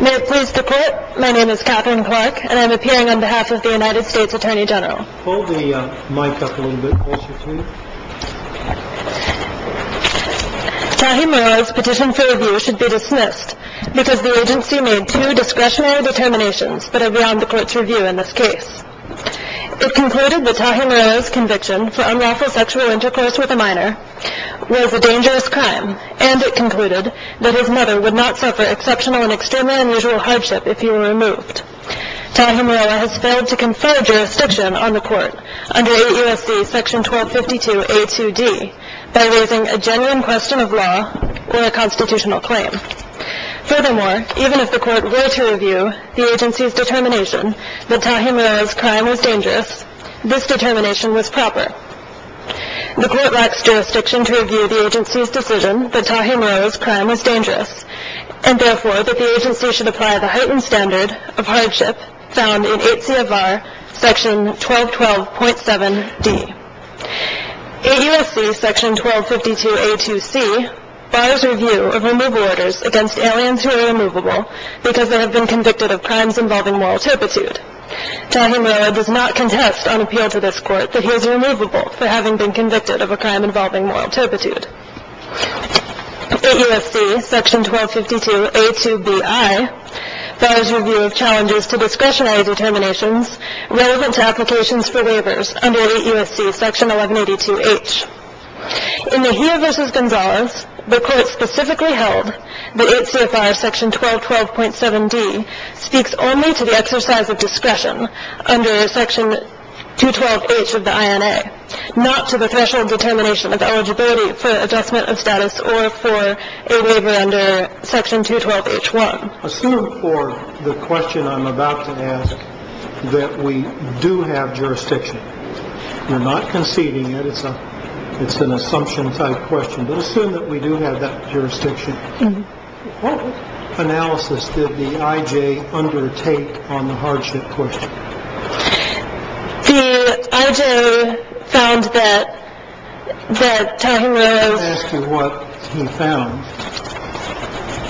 May it please the court, my name is Katherine Clark and I am appearing on behalf of the United States Attorney General. Hold the mic up a little bit closer please. Tahir Murillo's petition for review should be dismissed because the agency made two discretionary determinations that are beyond the court's review in this case. It concluded that Tahir Murillo's conviction for unlawful sexual intercourse with a minor was a dangerous crime and it concluded that his mother would not suffer exceptional and extremely unusual hardship if he were removed. Tahir Murillo has failed to confer jurisdiction on the court under 8 U.S.C. section 1252 A.2.D. by raising a genuine question of law or a constitutional claim. Furthermore, even if the court were to review the agency's determination that Tahir Murillo's crime was dangerous, this determination was proper. The court lacks jurisdiction to review the agency's decision that Tahir Murillo's crime was dangerous and therefore that the agency should apply the heightened standard of hardship found in 8 C. of V.A.R. section 1212.7.D. 8 U.S.C. section 1252 A.2.C. bars review of removal orders against aliens who are removable because they have been convicted of crimes involving moral turpitude. Tahir Murillo does not contest on appeal to this court that he is removable for having been convicted of a crime involving moral turpitude. 8 U.S.C. section 1252 A.2.B.I. bars review of challenges to discretionary determinations relevant to applications for waivers under 8 U.S.C. section 1182.H. In Tahir v. Gonzalez, the court specifically held that 8 C. of V.A.R. section 1212.7.D. speaks only to the exercise of discretion under section 212.H of the I.N.A., not to the threshold determination of eligibility for adjustment of status or for a waiver under section 212.H.1. Assume for the question I'm about to ask that we do have jurisdiction. We're not conceding it. It's an assumption type question. But assume that we do have that jurisdiction. What analysis did the I.J. undertake on the hardship question? The I.J. found that Tahir Murillo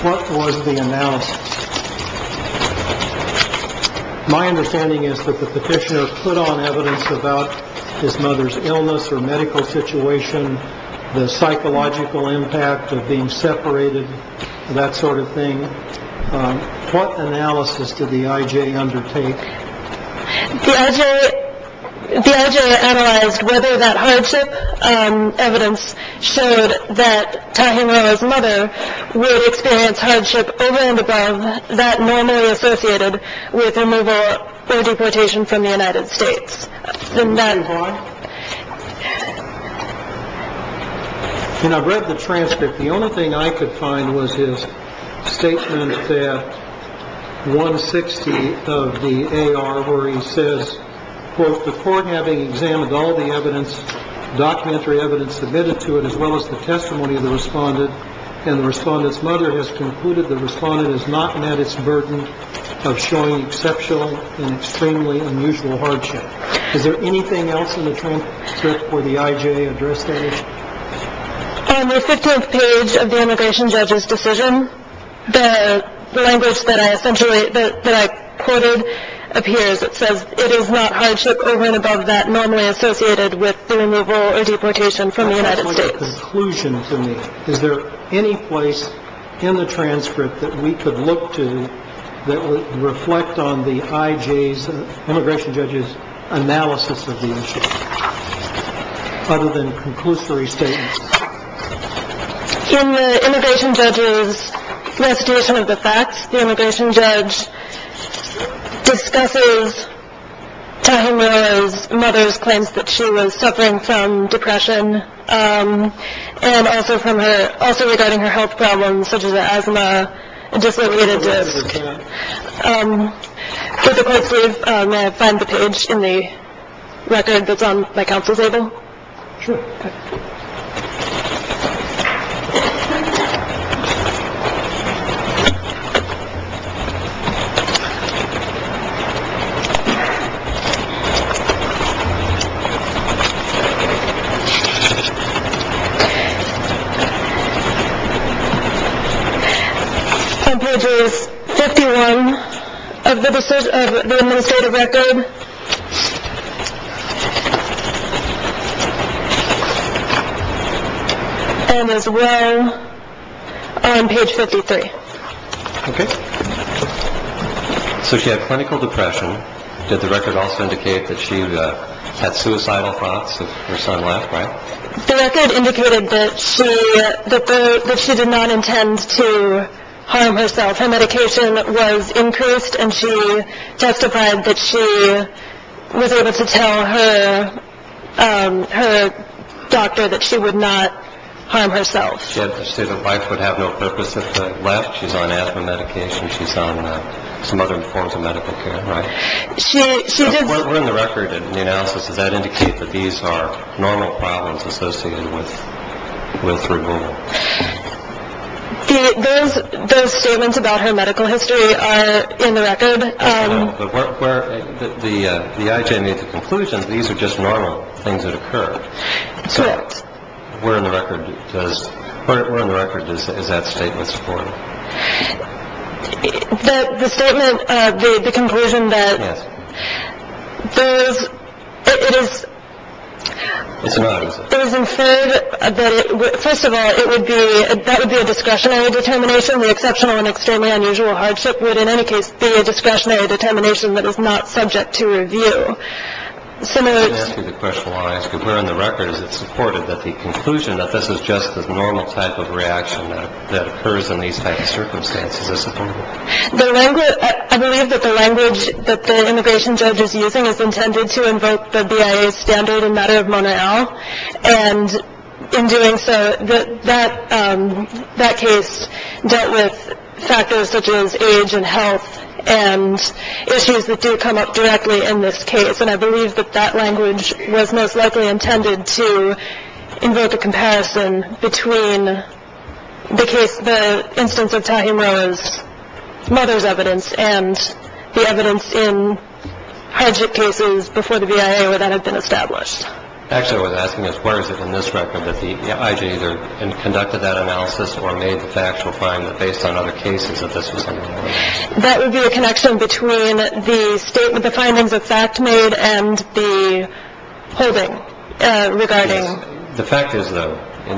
What was the analysis? My understanding is that the petitioner put on evidence about his mother's illness or medical situation, the psychological impact of being separated, that sort of thing. What analysis did the I.J. undertake? The I.J. analyzed whether that hardship evidence showed that Tahir Murillo's mother would experience hardship over and above that normally associated with removal or deportation from the United States. And I've read the transcript. The only thing I could find was his statement that 160 of the A.R. where he says, quote, before having examined all the evidence, documentary evidence submitted to it, as well as the testimony of the respondent and the respondent's mother, the respondent has not met its burden of showing exceptional and extremely unusual hardship. Is there anything else in the transcript or the I.J. address page? On the 15th page of the immigration judge's decision, the language that I quoted appears. It says it is not hardship over and above that normally associated with the removal or deportation from the United States. Is there any place in the transcript that we could look to that would reflect on the I.J.'s, immigration judge's analysis of the issue other than conclusory statements? In the immigration judge's recitation of the facts, the immigration judge discusses Tahir Murillo's mother's claims that she was suffering from depression. And also from her also regarding her health problems, such as asthma, I just wanted to find the page in the record that's on my council table. Sure. Thank you. On page 51 of the administrative record, and as well on page 53. Okay. So she had clinical depression. Did the record also indicate that she had suicidal thoughts if her son left? The record indicated that she did not intend to harm herself. Her medication was increased, and she testified that she was able to tell her doctor that she would not harm herself. She had to say that life would have no purpose if she left. She's on asthma medication. She's on some other forms of medical care, right? What were in the record in the analysis? Does that indicate that these are normal problems associated with removal? Those statements about her medical history are in the record. But the I.J. made the conclusion that these are just normal things that occurred. Correct. Where in the record is that statement supported? The statement, the conclusion that it is inferred that, first of all, that would be a discretionary determination. The exceptional and extremely unusual hardship would, in any case, be a discretionary determination that is not subject to review. Let me ask you the question while I ask it. Where in the record is it supported that the conclusion that this is just a normal type of reaction that occurs in these types of circumstances is supported? I believe that the language that the immigration judge is using is intended to invoke the BIA standard in the matter of Mona L. And in doing so, that case dealt with factors such as age and health and issues that do come up directly in this case. And I believe that that language was most likely intended to invoke a comparison between the case, the instance of Tahi Mora's mother's evidence and the evidence in hardship cases before the BIA where that had been established. Actually, I was asking as where is it in this record that the I.J. either conducted that analysis or made the factual finding that based on other cases that this was normal? That would be a connection between the findings that FACT made and the holding regarding. The fact is, though,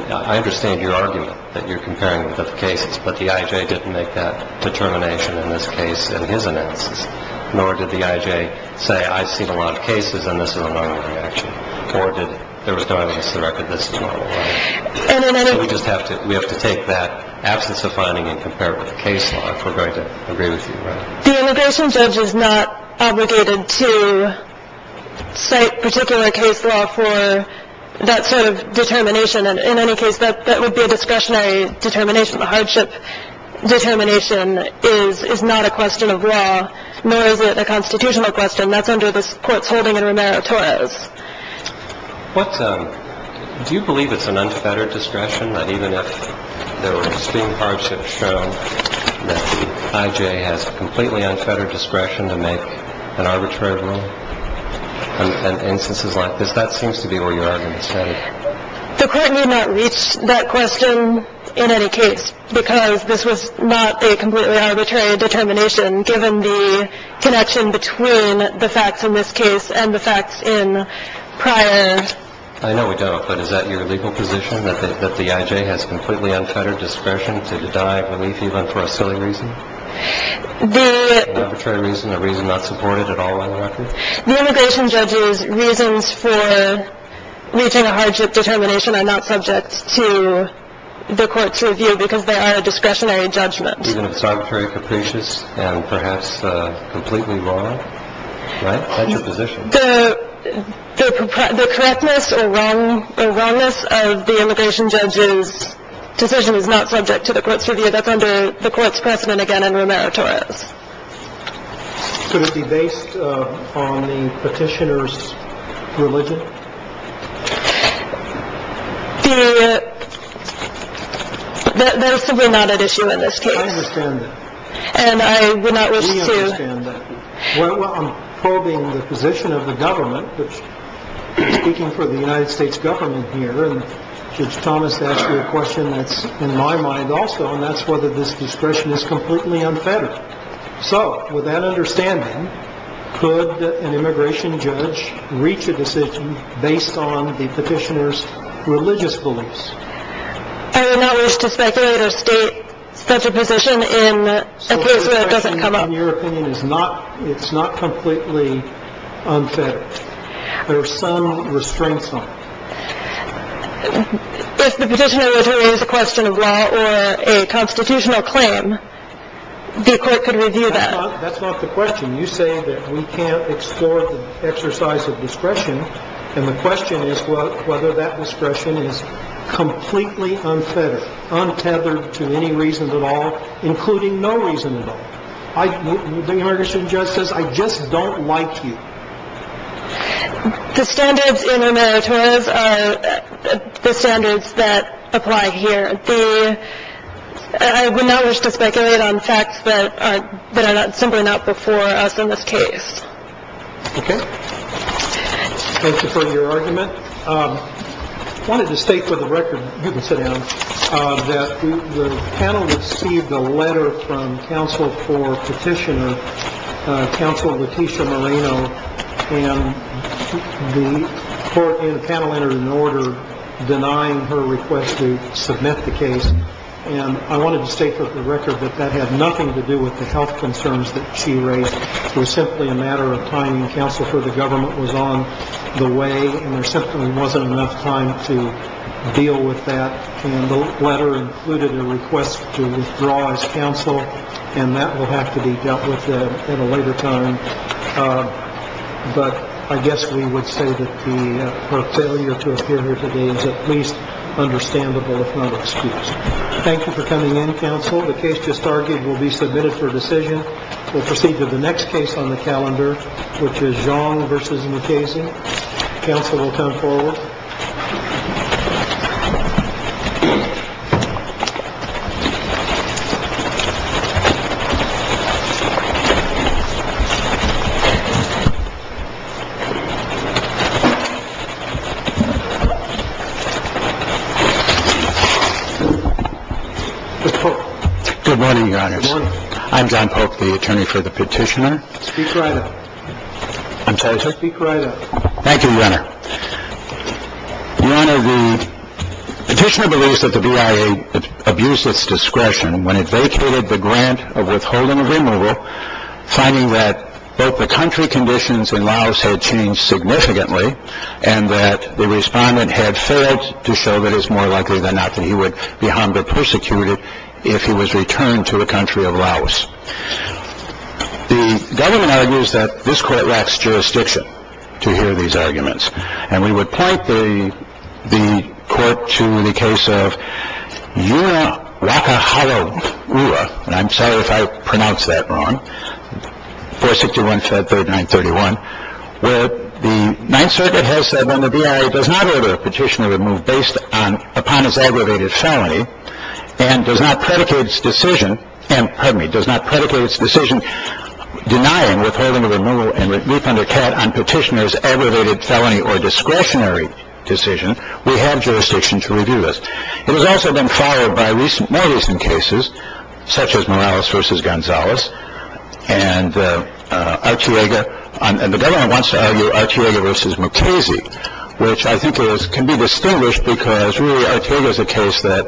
I understand your argument that you're comparing the cases, but the I.J. didn't make that determination in this case in his analysis, nor did the I.J. say I've seen a lot of cases and this is a normal reaction, nor did there was no evidence to the record that this is normal. So we just have to take that absence of finding and compare it with the case law, if we're going to agree with you. The immigration judge is not obligated to cite particular case law for that sort of determination. In any case, that would be a discretionary determination. The hardship determination is not a question of law, nor is it a constitutional question. That's under this court's holding in Romero-Torres. Do you believe it's an unfettered discretion that even if there were extreme hardship shown, that the I.J. has completely unfettered discretion to make an arbitrary rule in instances like this? That seems to be where your argument is headed. The court need not reach that question in any case, because this was not a completely arbitrary determination, given the connection between the facts in this case and the facts in prior. I know we don't, but is that your legal position, that the I.J. has completely unfettered discretion to deny belief, even for a silly reason? An arbitrary reason, a reason not supported at all in the record? The immigration judge's reasons for reaching a hardship determination are not subject to the court's review, because they are a discretionary judgment. Even if it's arbitrary, capricious, and perhaps completely wrong, right? That's your position. The correctness or wrongness of the immigration judge's decision is not subject to the court's review. That's under the court's precedent again in Romero-Torres. Could it be based on the petitioner's religion? That is simply not an issue in this case. I understand that. And I would not wish to. We understand that. Well, I'm probing the position of the government, which is speaking for the United States government here, and Judge Thomas asked you a question that's in my mind also, and that's whether this discretion is completely unfettered. So, with that understanding, could an immigration judge reach a decision based on the petitioner's religious beliefs? I would not wish to speculate or state such a position in a case where it doesn't come up. So the discretion, in your opinion, is not completely unfettered. There are some restraints on it. If the petitioner is a question of law or a constitutional claim, the court could review that. That's not the question. You say that we can't explore the exercise of discretion, and the question is whether that discretion is completely unfettered, untethered to any reason at all, including no reason at all. The immigration judge says, I just don't like you. The standards in our meritorious are the standards that apply here. I would not wish to speculate on facts that are simply not before us in this case. Okay. Thank you for your argument. I wanted to state for the record, you can sit down, that the panel received a letter from counsel for petitioner, counsel Leticia Moreno, and the panel entered an order denying her request to submit the case. And I wanted to state for the record that that had nothing to do with the health concerns that she raised. It was simply a matter of time and counsel for the government was on the way, and there simply wasn't enough time to deal with that. And the letter included a request to withdraw as counsel, and that will have to be dealt with at a later time. But I guess we would say that the failure to appear here today is at least understandable, if not excused. Thank you for coming in, counsel. The case just argued will be submitted for decision. We'll proceed to the next case on the calendar, which is Xiong v. Mukasey. Counsel will come forward. Mr. Polk. Good morning, Your Honors. Good morning. I'm John Polk, the attorney for the petitioner. Speak right up. Speak right up. Thank you, Your Honor. Your Honor, the petitioner believes that the BIA abused its discretion when it vacated the grant of withholding a removal, finding that both the country conditions in Laos had changed significantly and that the respondent had failed to show that it's more likely than not that he would be harmed or persecuted if he was returned to a country of Laos. The government argues that this court lacks jurisdiction to hear these arguments. And we would point the court to the case of Yuna Waka Hauua. And I'm sorry if I pronounced that wrong. 461-539-31, where the Ninth Circuit has said that the BIA does not order a petitioner removed based upon his aggravated felony and does not predicate its decision denying withholding a removal and refund a cat on petitioner's aggravated felony or discretionary decision. We have jurisdiction to review this. It has also been followed by more recent cases, such as Morales v. Gonzales and Artiega. And the government wants to argue Artiega v. McCasey, which I think can be distinguished because really Artiega is a case that,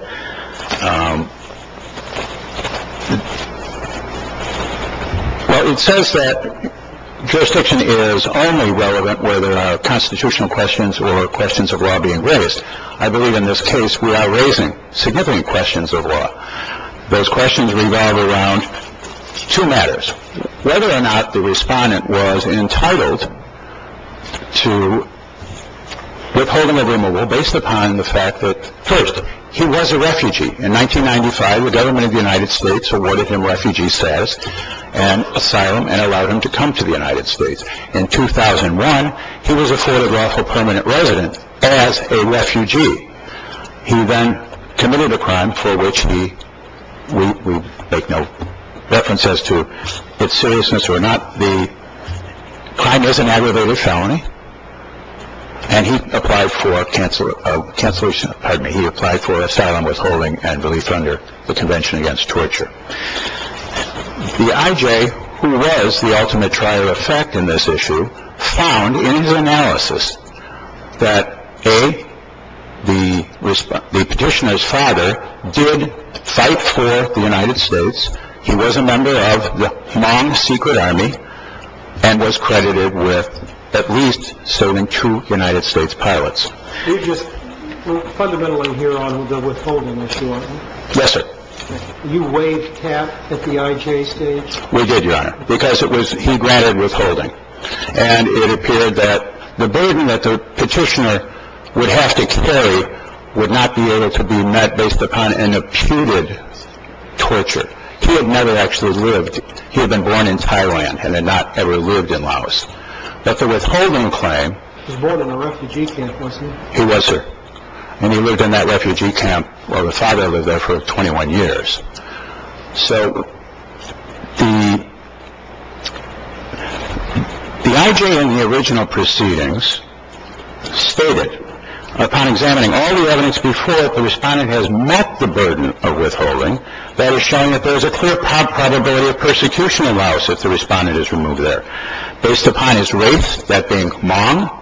well, it says that jurisdiction is only relevant where there are constitutional questions or questions of law being raised. I believe in this case we are raising significant questions of law. Those questions revolve around two matters. Whether or not the respondent was entitled to withholding a removal based upon the fact that, first, he was a refugee. In 1995, the government of the United States awarded him refugee status and asylum and allowed him to come to the United States. In 2001, he was afforded lawful permanent residence as a refugee. He then committed a crime for which we make no reference as to its seriousness or not. The crime is an aggravated felony, and he applied for cancellation. Pardon me. He applied for asylum, withholding, and relief under the Convention Against Torture. The I.J., who was the ultimate trial of fact in this issue, found in his analysis that, A, the petitioner's father did fight for the United States. He was a member of the non-secret army and was credited with at least serving two United States pilots. You're just fundamentally here on the withholding issue, aren't you? Yes, sir. You waived cap at the I.J. stage? We did, Your Honor, because he granted withholding. And it appeared that the burden that the petitioner would have to carry would not be able to be met based upon an imputed torture. He had never actually lived. He had been born in Thailand and had not ever lived in Laos. But the withholding claim… He was born in a refugee camp, wasn't he? He was, sir. And he lived in that refugee camp where the father lived there for 21 years. So the I.J. in the original proceedings stated, upon examining all the evidence before that the respondent has met the burden of withholding, that is showing that there is a clear probability of persecution in Laos if the respondent is removed there. Based upon his race, that being Hmong,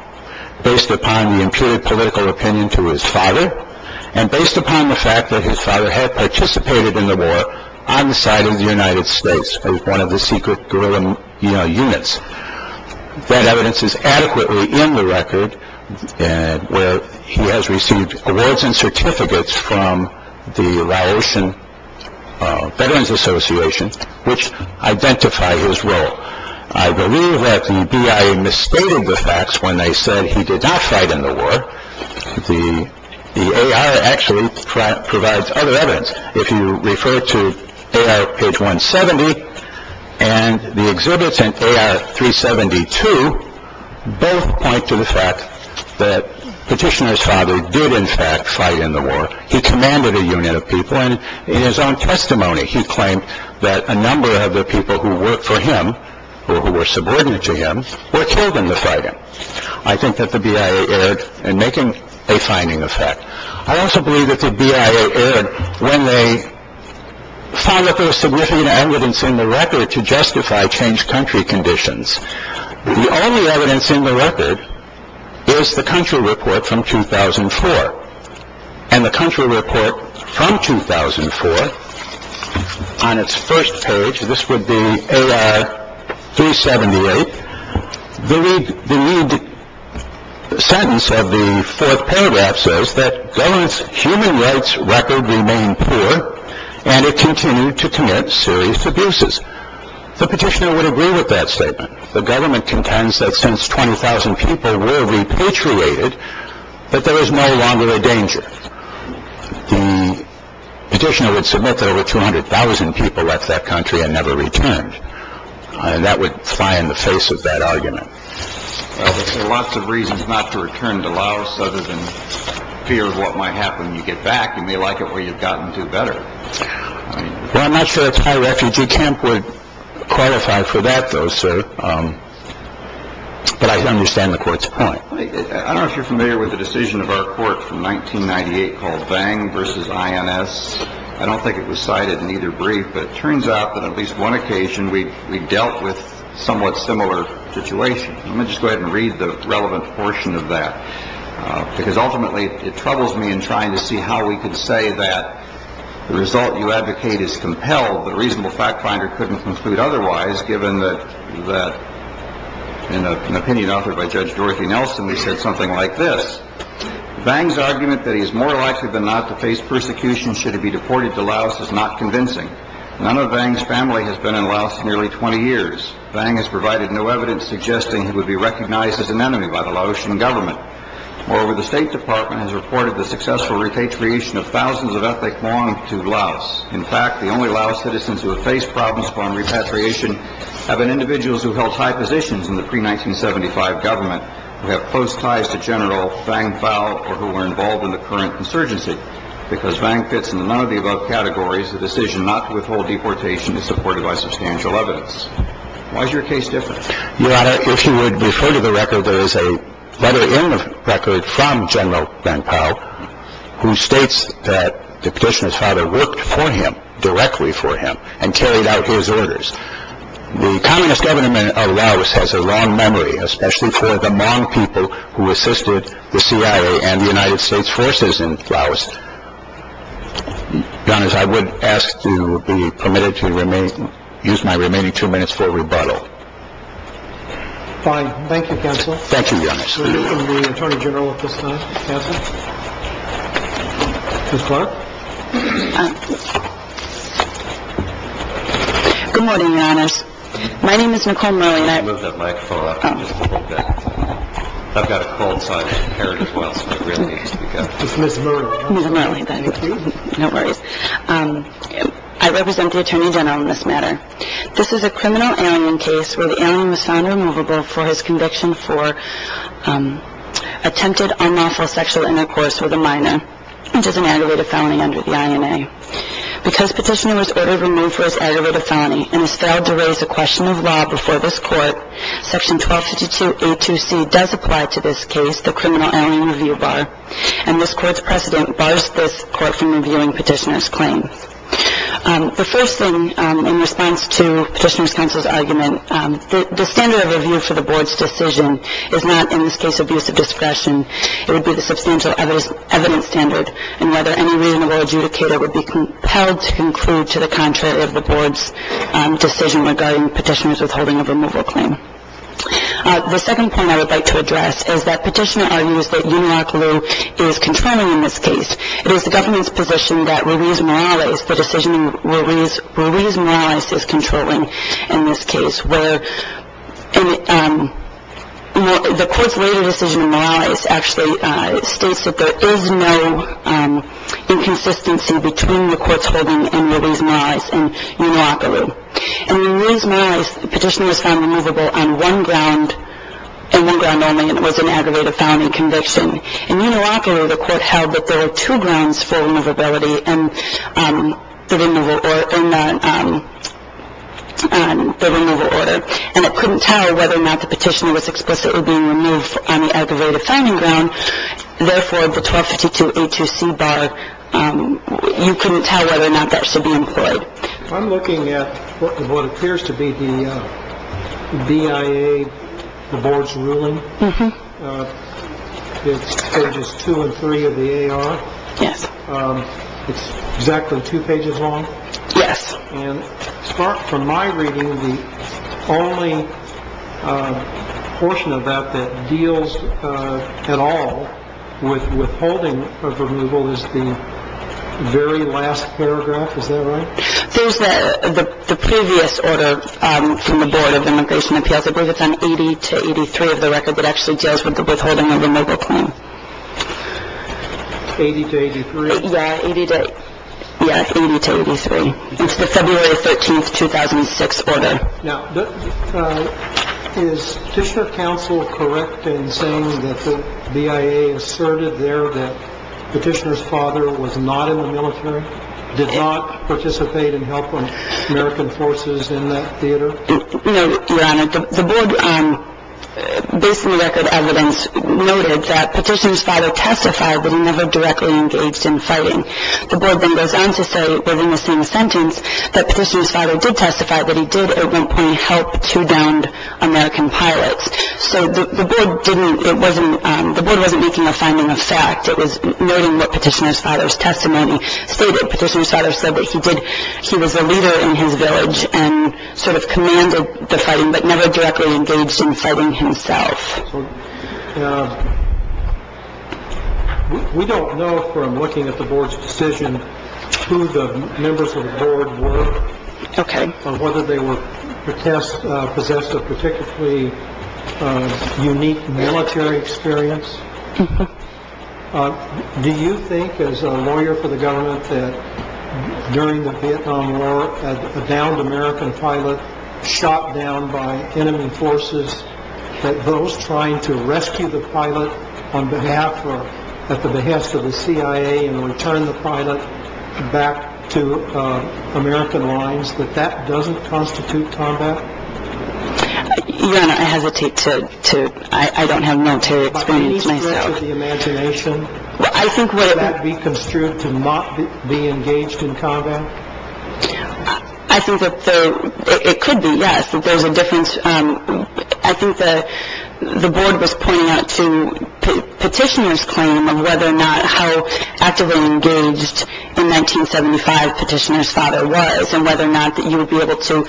based upon the imputed political opinion to his father, and based upon the fact that his father had participated in the war on the side of the United States as one of the secret guerrilla units, that evidence is adequately in the record where he has received awards and certificates from the Laotian Veterans Association, which identify his role. I believe that the BIA misstated the facts when they said he did not fight in the war. The A.R. actually provides other evidence. If you refer to A.R. page 170 and the exhibits in A.R. 372, both point to the fact that Petitioner's father did, in fact, fight in the war. He commanded a unit of people. In his own testimony, he claimed that a number of the people who worked for him or who were subordinate to him were killed in the fighting. I think that the BIA erred in making a finding of fact. I also believe that the BIA erred when they found that there was significant evidence in the record to justify changed country conditions. The only evidence in the record is the country report from 2004. And the country report from 2004, on its first page, this would be A.R. 378, the lead sentence of the fourth paragraph says that government's human rights record remained poor and it continued to commit serious abuses. The Petitioner would agree with that statement. The government contends that since 20,000 people were repatriated, that there is no longer a danger. The Petitioner would submit that over 200,000 people left that country and never returned. And that would fly in the face of that argument. There are lots of reasons not to return to Laos other than fear of what might happen when you get back. You may like it where you've gotten to better. Well, I'm not sure a Thai refugee camp would qualify for that, though, sir. But I understand the court's point. I don't know if you're familiar with the decision of our court from 1998 called Vang versus INS. I don't think it was cited in either brief, but it turns out that at least one occasion we dealt with somewhat similar situations. Let me just go ahead and read the relevant portion of that, because ultimately it troubles me in trying to see how we could say that the result you advocate is compelled, but a reasonable fact finder couldn't conclude otherwise, given that in an opinion authored by Judge Dorothy Nelson, we said something like this. Vang's argument that he is more likely than not to face persecution should he be deported to Laos is not convincing. None of Vang's family has been in Laos nearly 20 years. Vang has provided no evidence suggesting he would be recognized as an enemy by the Laotian government. Moreover, the State Department has reported the successful repatriation of thousands of ethnic Hmong to Laos. In fact, the only Laos citizens who have faced problems upon repatriation have been individuals who held high positions in the pre-1975 government, who have close ties to General Vang Phao, or who are involved in the current consergency. Because Vang fits into none of the above categories, the decision not to withhold deportation is supported by substantial evidence. Why is your case different? Your Honor, if you would refer to the record, there is a letter in the record from General Vang Phao, who states that the petitioner's father worked for him, directly for him, and carried out his orders. The communist government of Laos has a long memory, especially for the Hmong people who assisted the CIA and the United States forces in Laos. Your Honor, I would ask to be permitted to use my remaining two minutes for a rebuttal. Fine. Thank you, counsel. Thank you, Your Honor. The Attorney General at this time, counsel. Ms. Clark. Good morning, Your Honor. My name is Nicole Murley. I've got a cold side. Is Ms. Murley around? Ms. Murley. No worries. I represent the Attorney General in this matter. This is a criminal alien case where the alien was found removable for his conviction for attempted unlawful sexual intercourse with a minor, which is an aggravated felony under the INA. Because petitioner was ordered removed for his aggravated felony and is failed to raise a question of law before this court, Section 1252A2C does apply to this case, the criminal alien review bar, and this court's precedent bars this court from reviewing petitioner's claims. The first thing in response to petitioner's counsel's argument, the standard of review for the board's decision is not, in this case, abuse of discretion. It would be the substantial evidence standard, and whether any reasonable adjudicator would be compelled to conclude to the contrary of the board's decision regarding petitioner's withholding of removal claim. The second point I would like to address is that petitioner argues that Una Akalu is controlling in this case. It is the government's position that Ruiz-Morales, the decision Ruiz-Morales is controlling in this case, where the court's later decision in Morales actually states that there is no inconsistency between the court's holding and Ruiz-Morales and Una Akalu. And in Ruiz-Morales, the petitioner was found removable on one ground, and one ground only, and it was an aggravated felony conviction. In Una Akalu, the court held that there were two grounds for removability in the removal order, and it couldn't tell whether or not the petitioner was explicitly being removed on the aggravated felony ground. Therefore, the 1252A2C bar, you couldn't tell whether or not that should be employed. I'm looking at what appears to be the BIA, the board's ruling. It's pages two and three of the AR. Yes. It's exactly two pages long. Yes. And from my reading, the only portion of that that deals at all with withholding of removal is the very last paragraph. Is that right? There's the previous order from the Board of Immigration Appeals. I believe it's on 80 to 83 of the record that actually deals with the withholding of removal claim. 80 to 83? Yes, 80 to 83. It's the February 13, 2006 order. Now, is petitioner counsel correct in saying that the BIA asserted there that petitioner's father was not in the military, did not participate in helping American forces in that theater? No, Your Honor. The board, based on the record evidence, noted that petitioner's father testified that he never directly engaged in fighting. The board then goes on to say within the same sentence that petitioner's father did testify that he did, at one point, help two downed American pilots. So the board didn't – it wasn't – the board wasn't making a finding of fact. It was noting what petitioner's father's testimony stated. Petitioner's father said that he did – he was a leader in his village and sort of commanded the fighting, but never directly engaged in fighting himself. We don't know from looking at the board's decision who the members of the board were. Okay. Or whether they were possessed of particularly unique military experience. Do you think, as a lawyer for the government, that during the Vietnam War, a downed American pilot shot down by enemy forces, that those trying to rescue the pilot on behalf or at the behest of the CIA and return the pilot back to American lines, that that doesn't constitute combat? Your Honor, I hesitate to – I don't have military experience myself. By any stretch of the imagination, would that be construed to not be engaged in combat? I think that the – it could be, yes, that there's a difference. I think the board was pointing out to petitioner's claim of whether or not how actively engaged in 1975 petitioner's father was, and whether or not that you would be able to,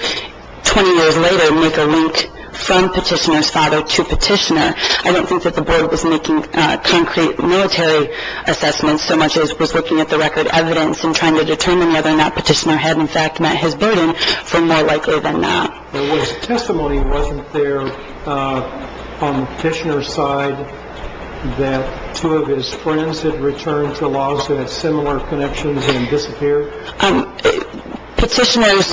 20 years later, make a link from petitioner's father to petitioner. I don't think that the board was making concrete military assessments, so much as was looking at the record evidence and trying to determine whether or not petitioner had in fact met his burden, for more likely than not. But was – testimony wasn't there on the petitioner's side that two of his friends had returned to Los and had similar connections and disappeared? Petitioner's –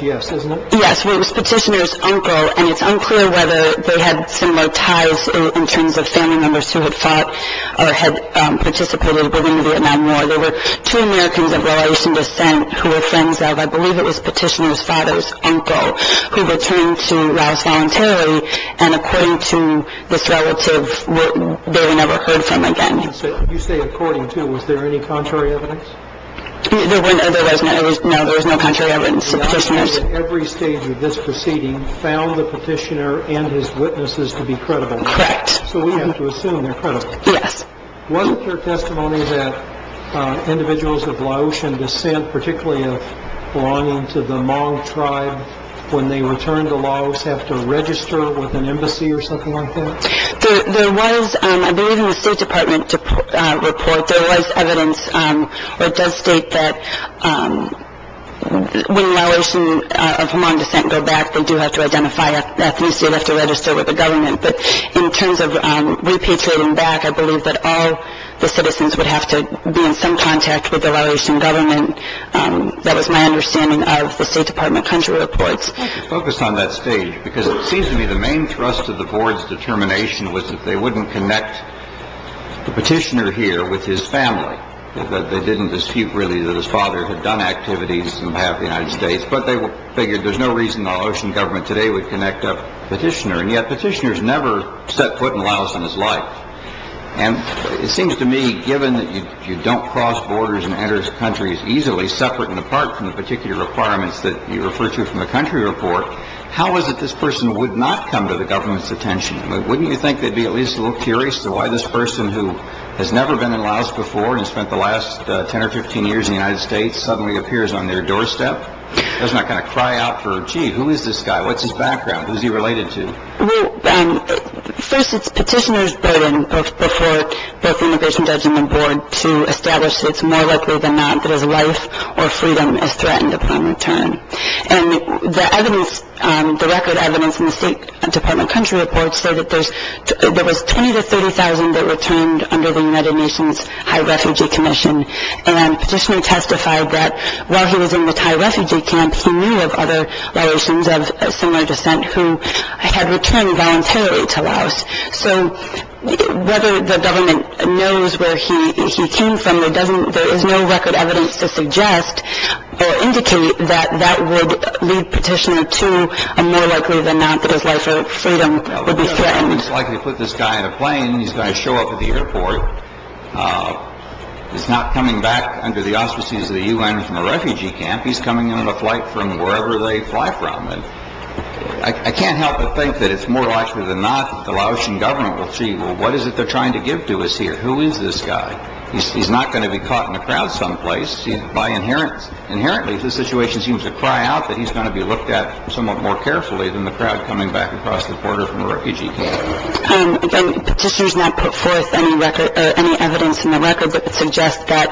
Yes, isn't it? Yes, it was petitioner's uncle, and it's unclear whether they had similar ties in terms of family members who had fought or had participated within the Vietnam War. I think that the board was pointing out to petitioner's claim of whether or not petitioner's father had met his burden, and whether or not petitioner's father had disappeared. or not petitioner's father had met his burden. Individuals of Laotian descent, particularly belonging to the Hmong tribe, when they return to Laos, have to register with an embassy or something like that? There was, I believe in the State Department report, there was evidence, or it does state that when Laotians of Hmong descent go back, they do have to identify ethnicity, they have to register with the government. But in terms of repatriating back, I believe that all the citizens would have to be in some contact with the Laotian government. That was my understanding of the State Department country reports. Focus on that stage, because it seems to me the main thrust of the board's determination was that they wouldn't connect the petitioner here with his family. They didn't dispute really that his father had done activities on behalf of the United States, but they figured there's no reason the Laotian government today would connect up petitioner. And yet petitioners never set foot in Laos in his life. And it seems to me, given that you don't cross borders and enter countries easily, separate and apart from the particular requirements that you refer to from the country report, how is it this person would not come to the government's attention? Wouldn't you think they'd be at least a little curious to why this person who has never been in Laos before and spent the last 10 or 15 years in the United States suddenly appears on their doorstep? Doesn't that kind of cry out for, gee, who is this guy? What's his background? Who is he related to? Well, first, it's petitioner's burden before both the immigration judge and the board to establish that it's more likely than not that his life or freedom is threatened upon return. And the evidence, the record evidence in the State Department country reports say that there was 20,000 to 30,000 that returned under the United Nations High Refugee Commission. And petitioner testified that while he was in the Thai refugee camp, he knew of other relations of similar descent who had returned voluntarily to Laos. So whether the government knows where he came from, there is no record evidence to suggest or indicate that that would lead petitioner to a more likely than not that his life or freedom would be threatened. It's likely to put this guy in a plane. He's going to show up at the airport. He's not coming back under the auspices of the U.N. from a refugee camp. He's coming in on a flight from wherever they fly from. And I can't help but think that it's more likely than not that the Laotian government will see, well, what is it they're trying to give to us here? Who is this guy? He's not going to be caught in a crowd someplace. Inherently, the situation seems to cry out that he's going to be looked at somewhat more carefully than the crowd coming back across the border from a refugee camp. And again, petitioners not put forth any record or any evidence in the record that would suggest that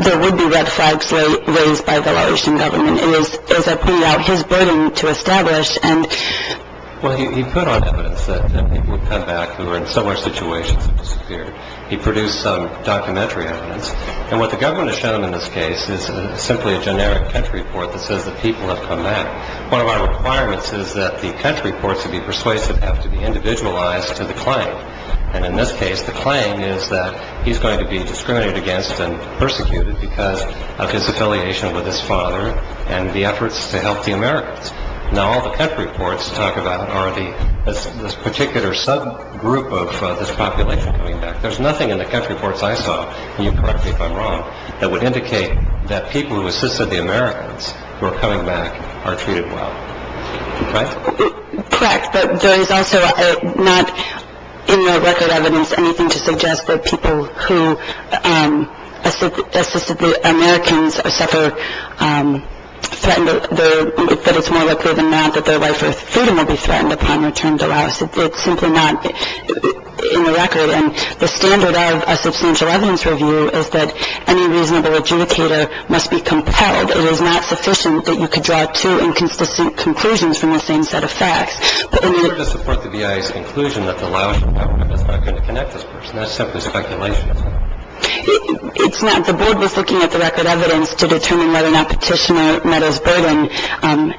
there would be red flags raised by the Laotian government. It is, as I pointed out, his burden to establish. Well, he put on evidence that people would come back who were in similar situations and disappeared. He produced some documentary evidence. And what the government has shown in this case is simply a generic catch report that says that people have come back. One of our requirements is that the catch reports to be persuasive have to be individualized to the claim. And in this case, the claim is that he's going to be discriminated against and persecuted because of his affiliation with his father and the efforts to help the Americans. Now, all the catch reports talk about are this particular subgroup of this population coming back. There's nothing in the catch reports I saw, and you can correct me if I'm wrong, that would indicate that people who assisted the Americans who are coming back are treated well. Correct? Correct. But there is also not in the record evidence anything to suggest that people who assisted the Americans suffer threatened. That it's more likely than not that their right for freedom will be threatened upon return to Laos. It's simply not in the record. And the standard of a substantial evidence review is that any reasonable adjudicator must be compelled. It is not sufficient that you could draw two inconsistent conclusions from the same set of facts. But in order to support the BIA's conclusion that the Laotian government is not going to connect this person, that's simply speculation, isn't it? It's not. The board was looking at the record evidence to determine whether or not Petitioner meddles burden in...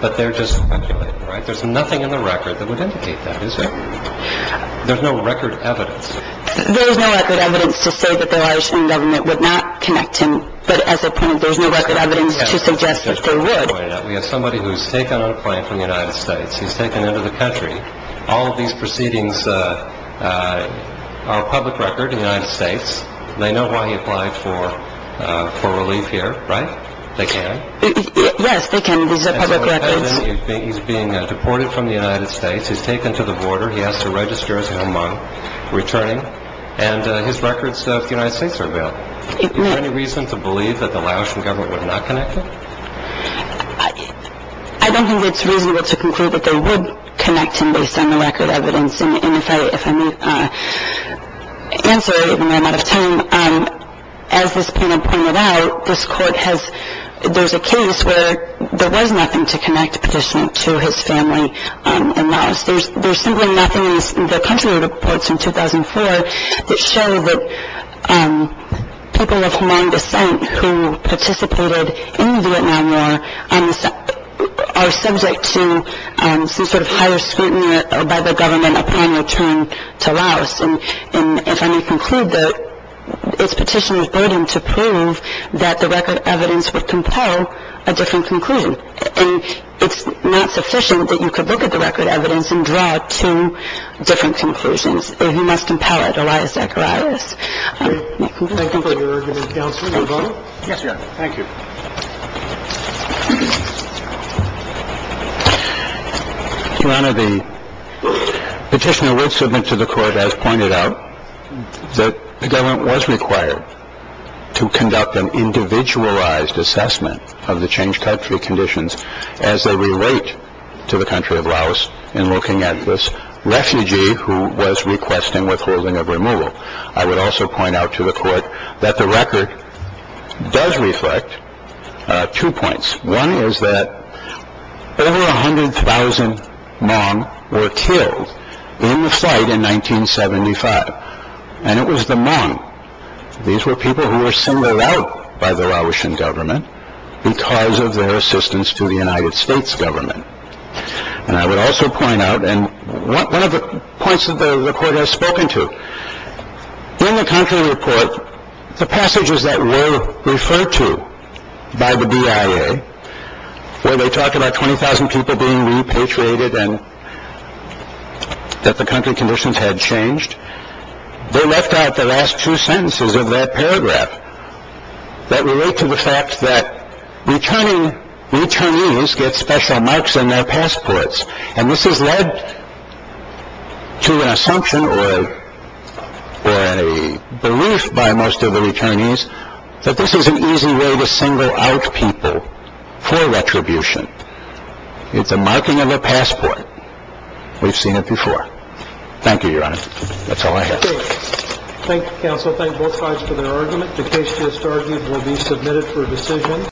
But they're just speculating, right? There's nothing in the record that would indicate that, is there? There's no record evidence. There's no record evidence to say that the Laotian government would not connect him, but as a point of... there's no record evidence to suggest that they would. We have somebody who's taken on a plan from the United States. He's taken into the country. All of these proceedings are a public record in the United States. They know why he applied for relief here, right? They can? Yes, they can. These are public records. He's being deported from the United States. He's taken to the border. He has to register as a Hmong, returning. And his records of the United States are available. Is there any reason to believe that the Laotian government would not connect him? I don't think it's reasonable to conclude that they would connect him based on the record evidence. And if I may answer, even though I'm out of time, as this plaintiff pointed out, this court has... there's a case where there was nothing to connect the petitioner to his family in Laos. There's simply nothing in the country reports in 2004 that show that people of Hmong descent who participated in the Vietnam War are subject to some sort of higher scrutiny by the government upon return to Laos. And if I may conclude that it's petitioner's burden to prove that the record evidence would compel a different conclusion. And it's not sufficient that you could look at the record evidence and draw two different conclusions. You must compel it, Elias Zacharias. Thank you for your argument, Counsel. Counsel? Yes, Your Honor. Thank you. Your Honor, the petitioner would submit to the court, as pointed out, that the government was required to conduct an individualized assessment of the changed country conditions as they relate to the country of Laos in looking at this refugee who was requesting withholding of removal. I would also point out to the court that the record does reflect two points. One is that over 100,000 Hmong were killed in the fight in 1975, and it was the Hmong. These were people who were singled out by the Laotian government because of their assistance to the United States government. And I would also point out, and one of the points that the record has spoken to, in the country report, the passages that were referred to by the BIA where they talk about 20,000 people being repatriated and that the country conditions had changed, they left out the last two sentences of that paragraph that relate to the fact that returning returnees get special marks on their passports. And this has led to an assumption or a belief by most of the returnees that this is an easy way to single out people for retribution. It's a marking of a passport. We've seen it before. Thank you, Your Honor. That's all I have. Thank you, counsel. Thank both sides for their argument. The case just argued will be submitted for decision.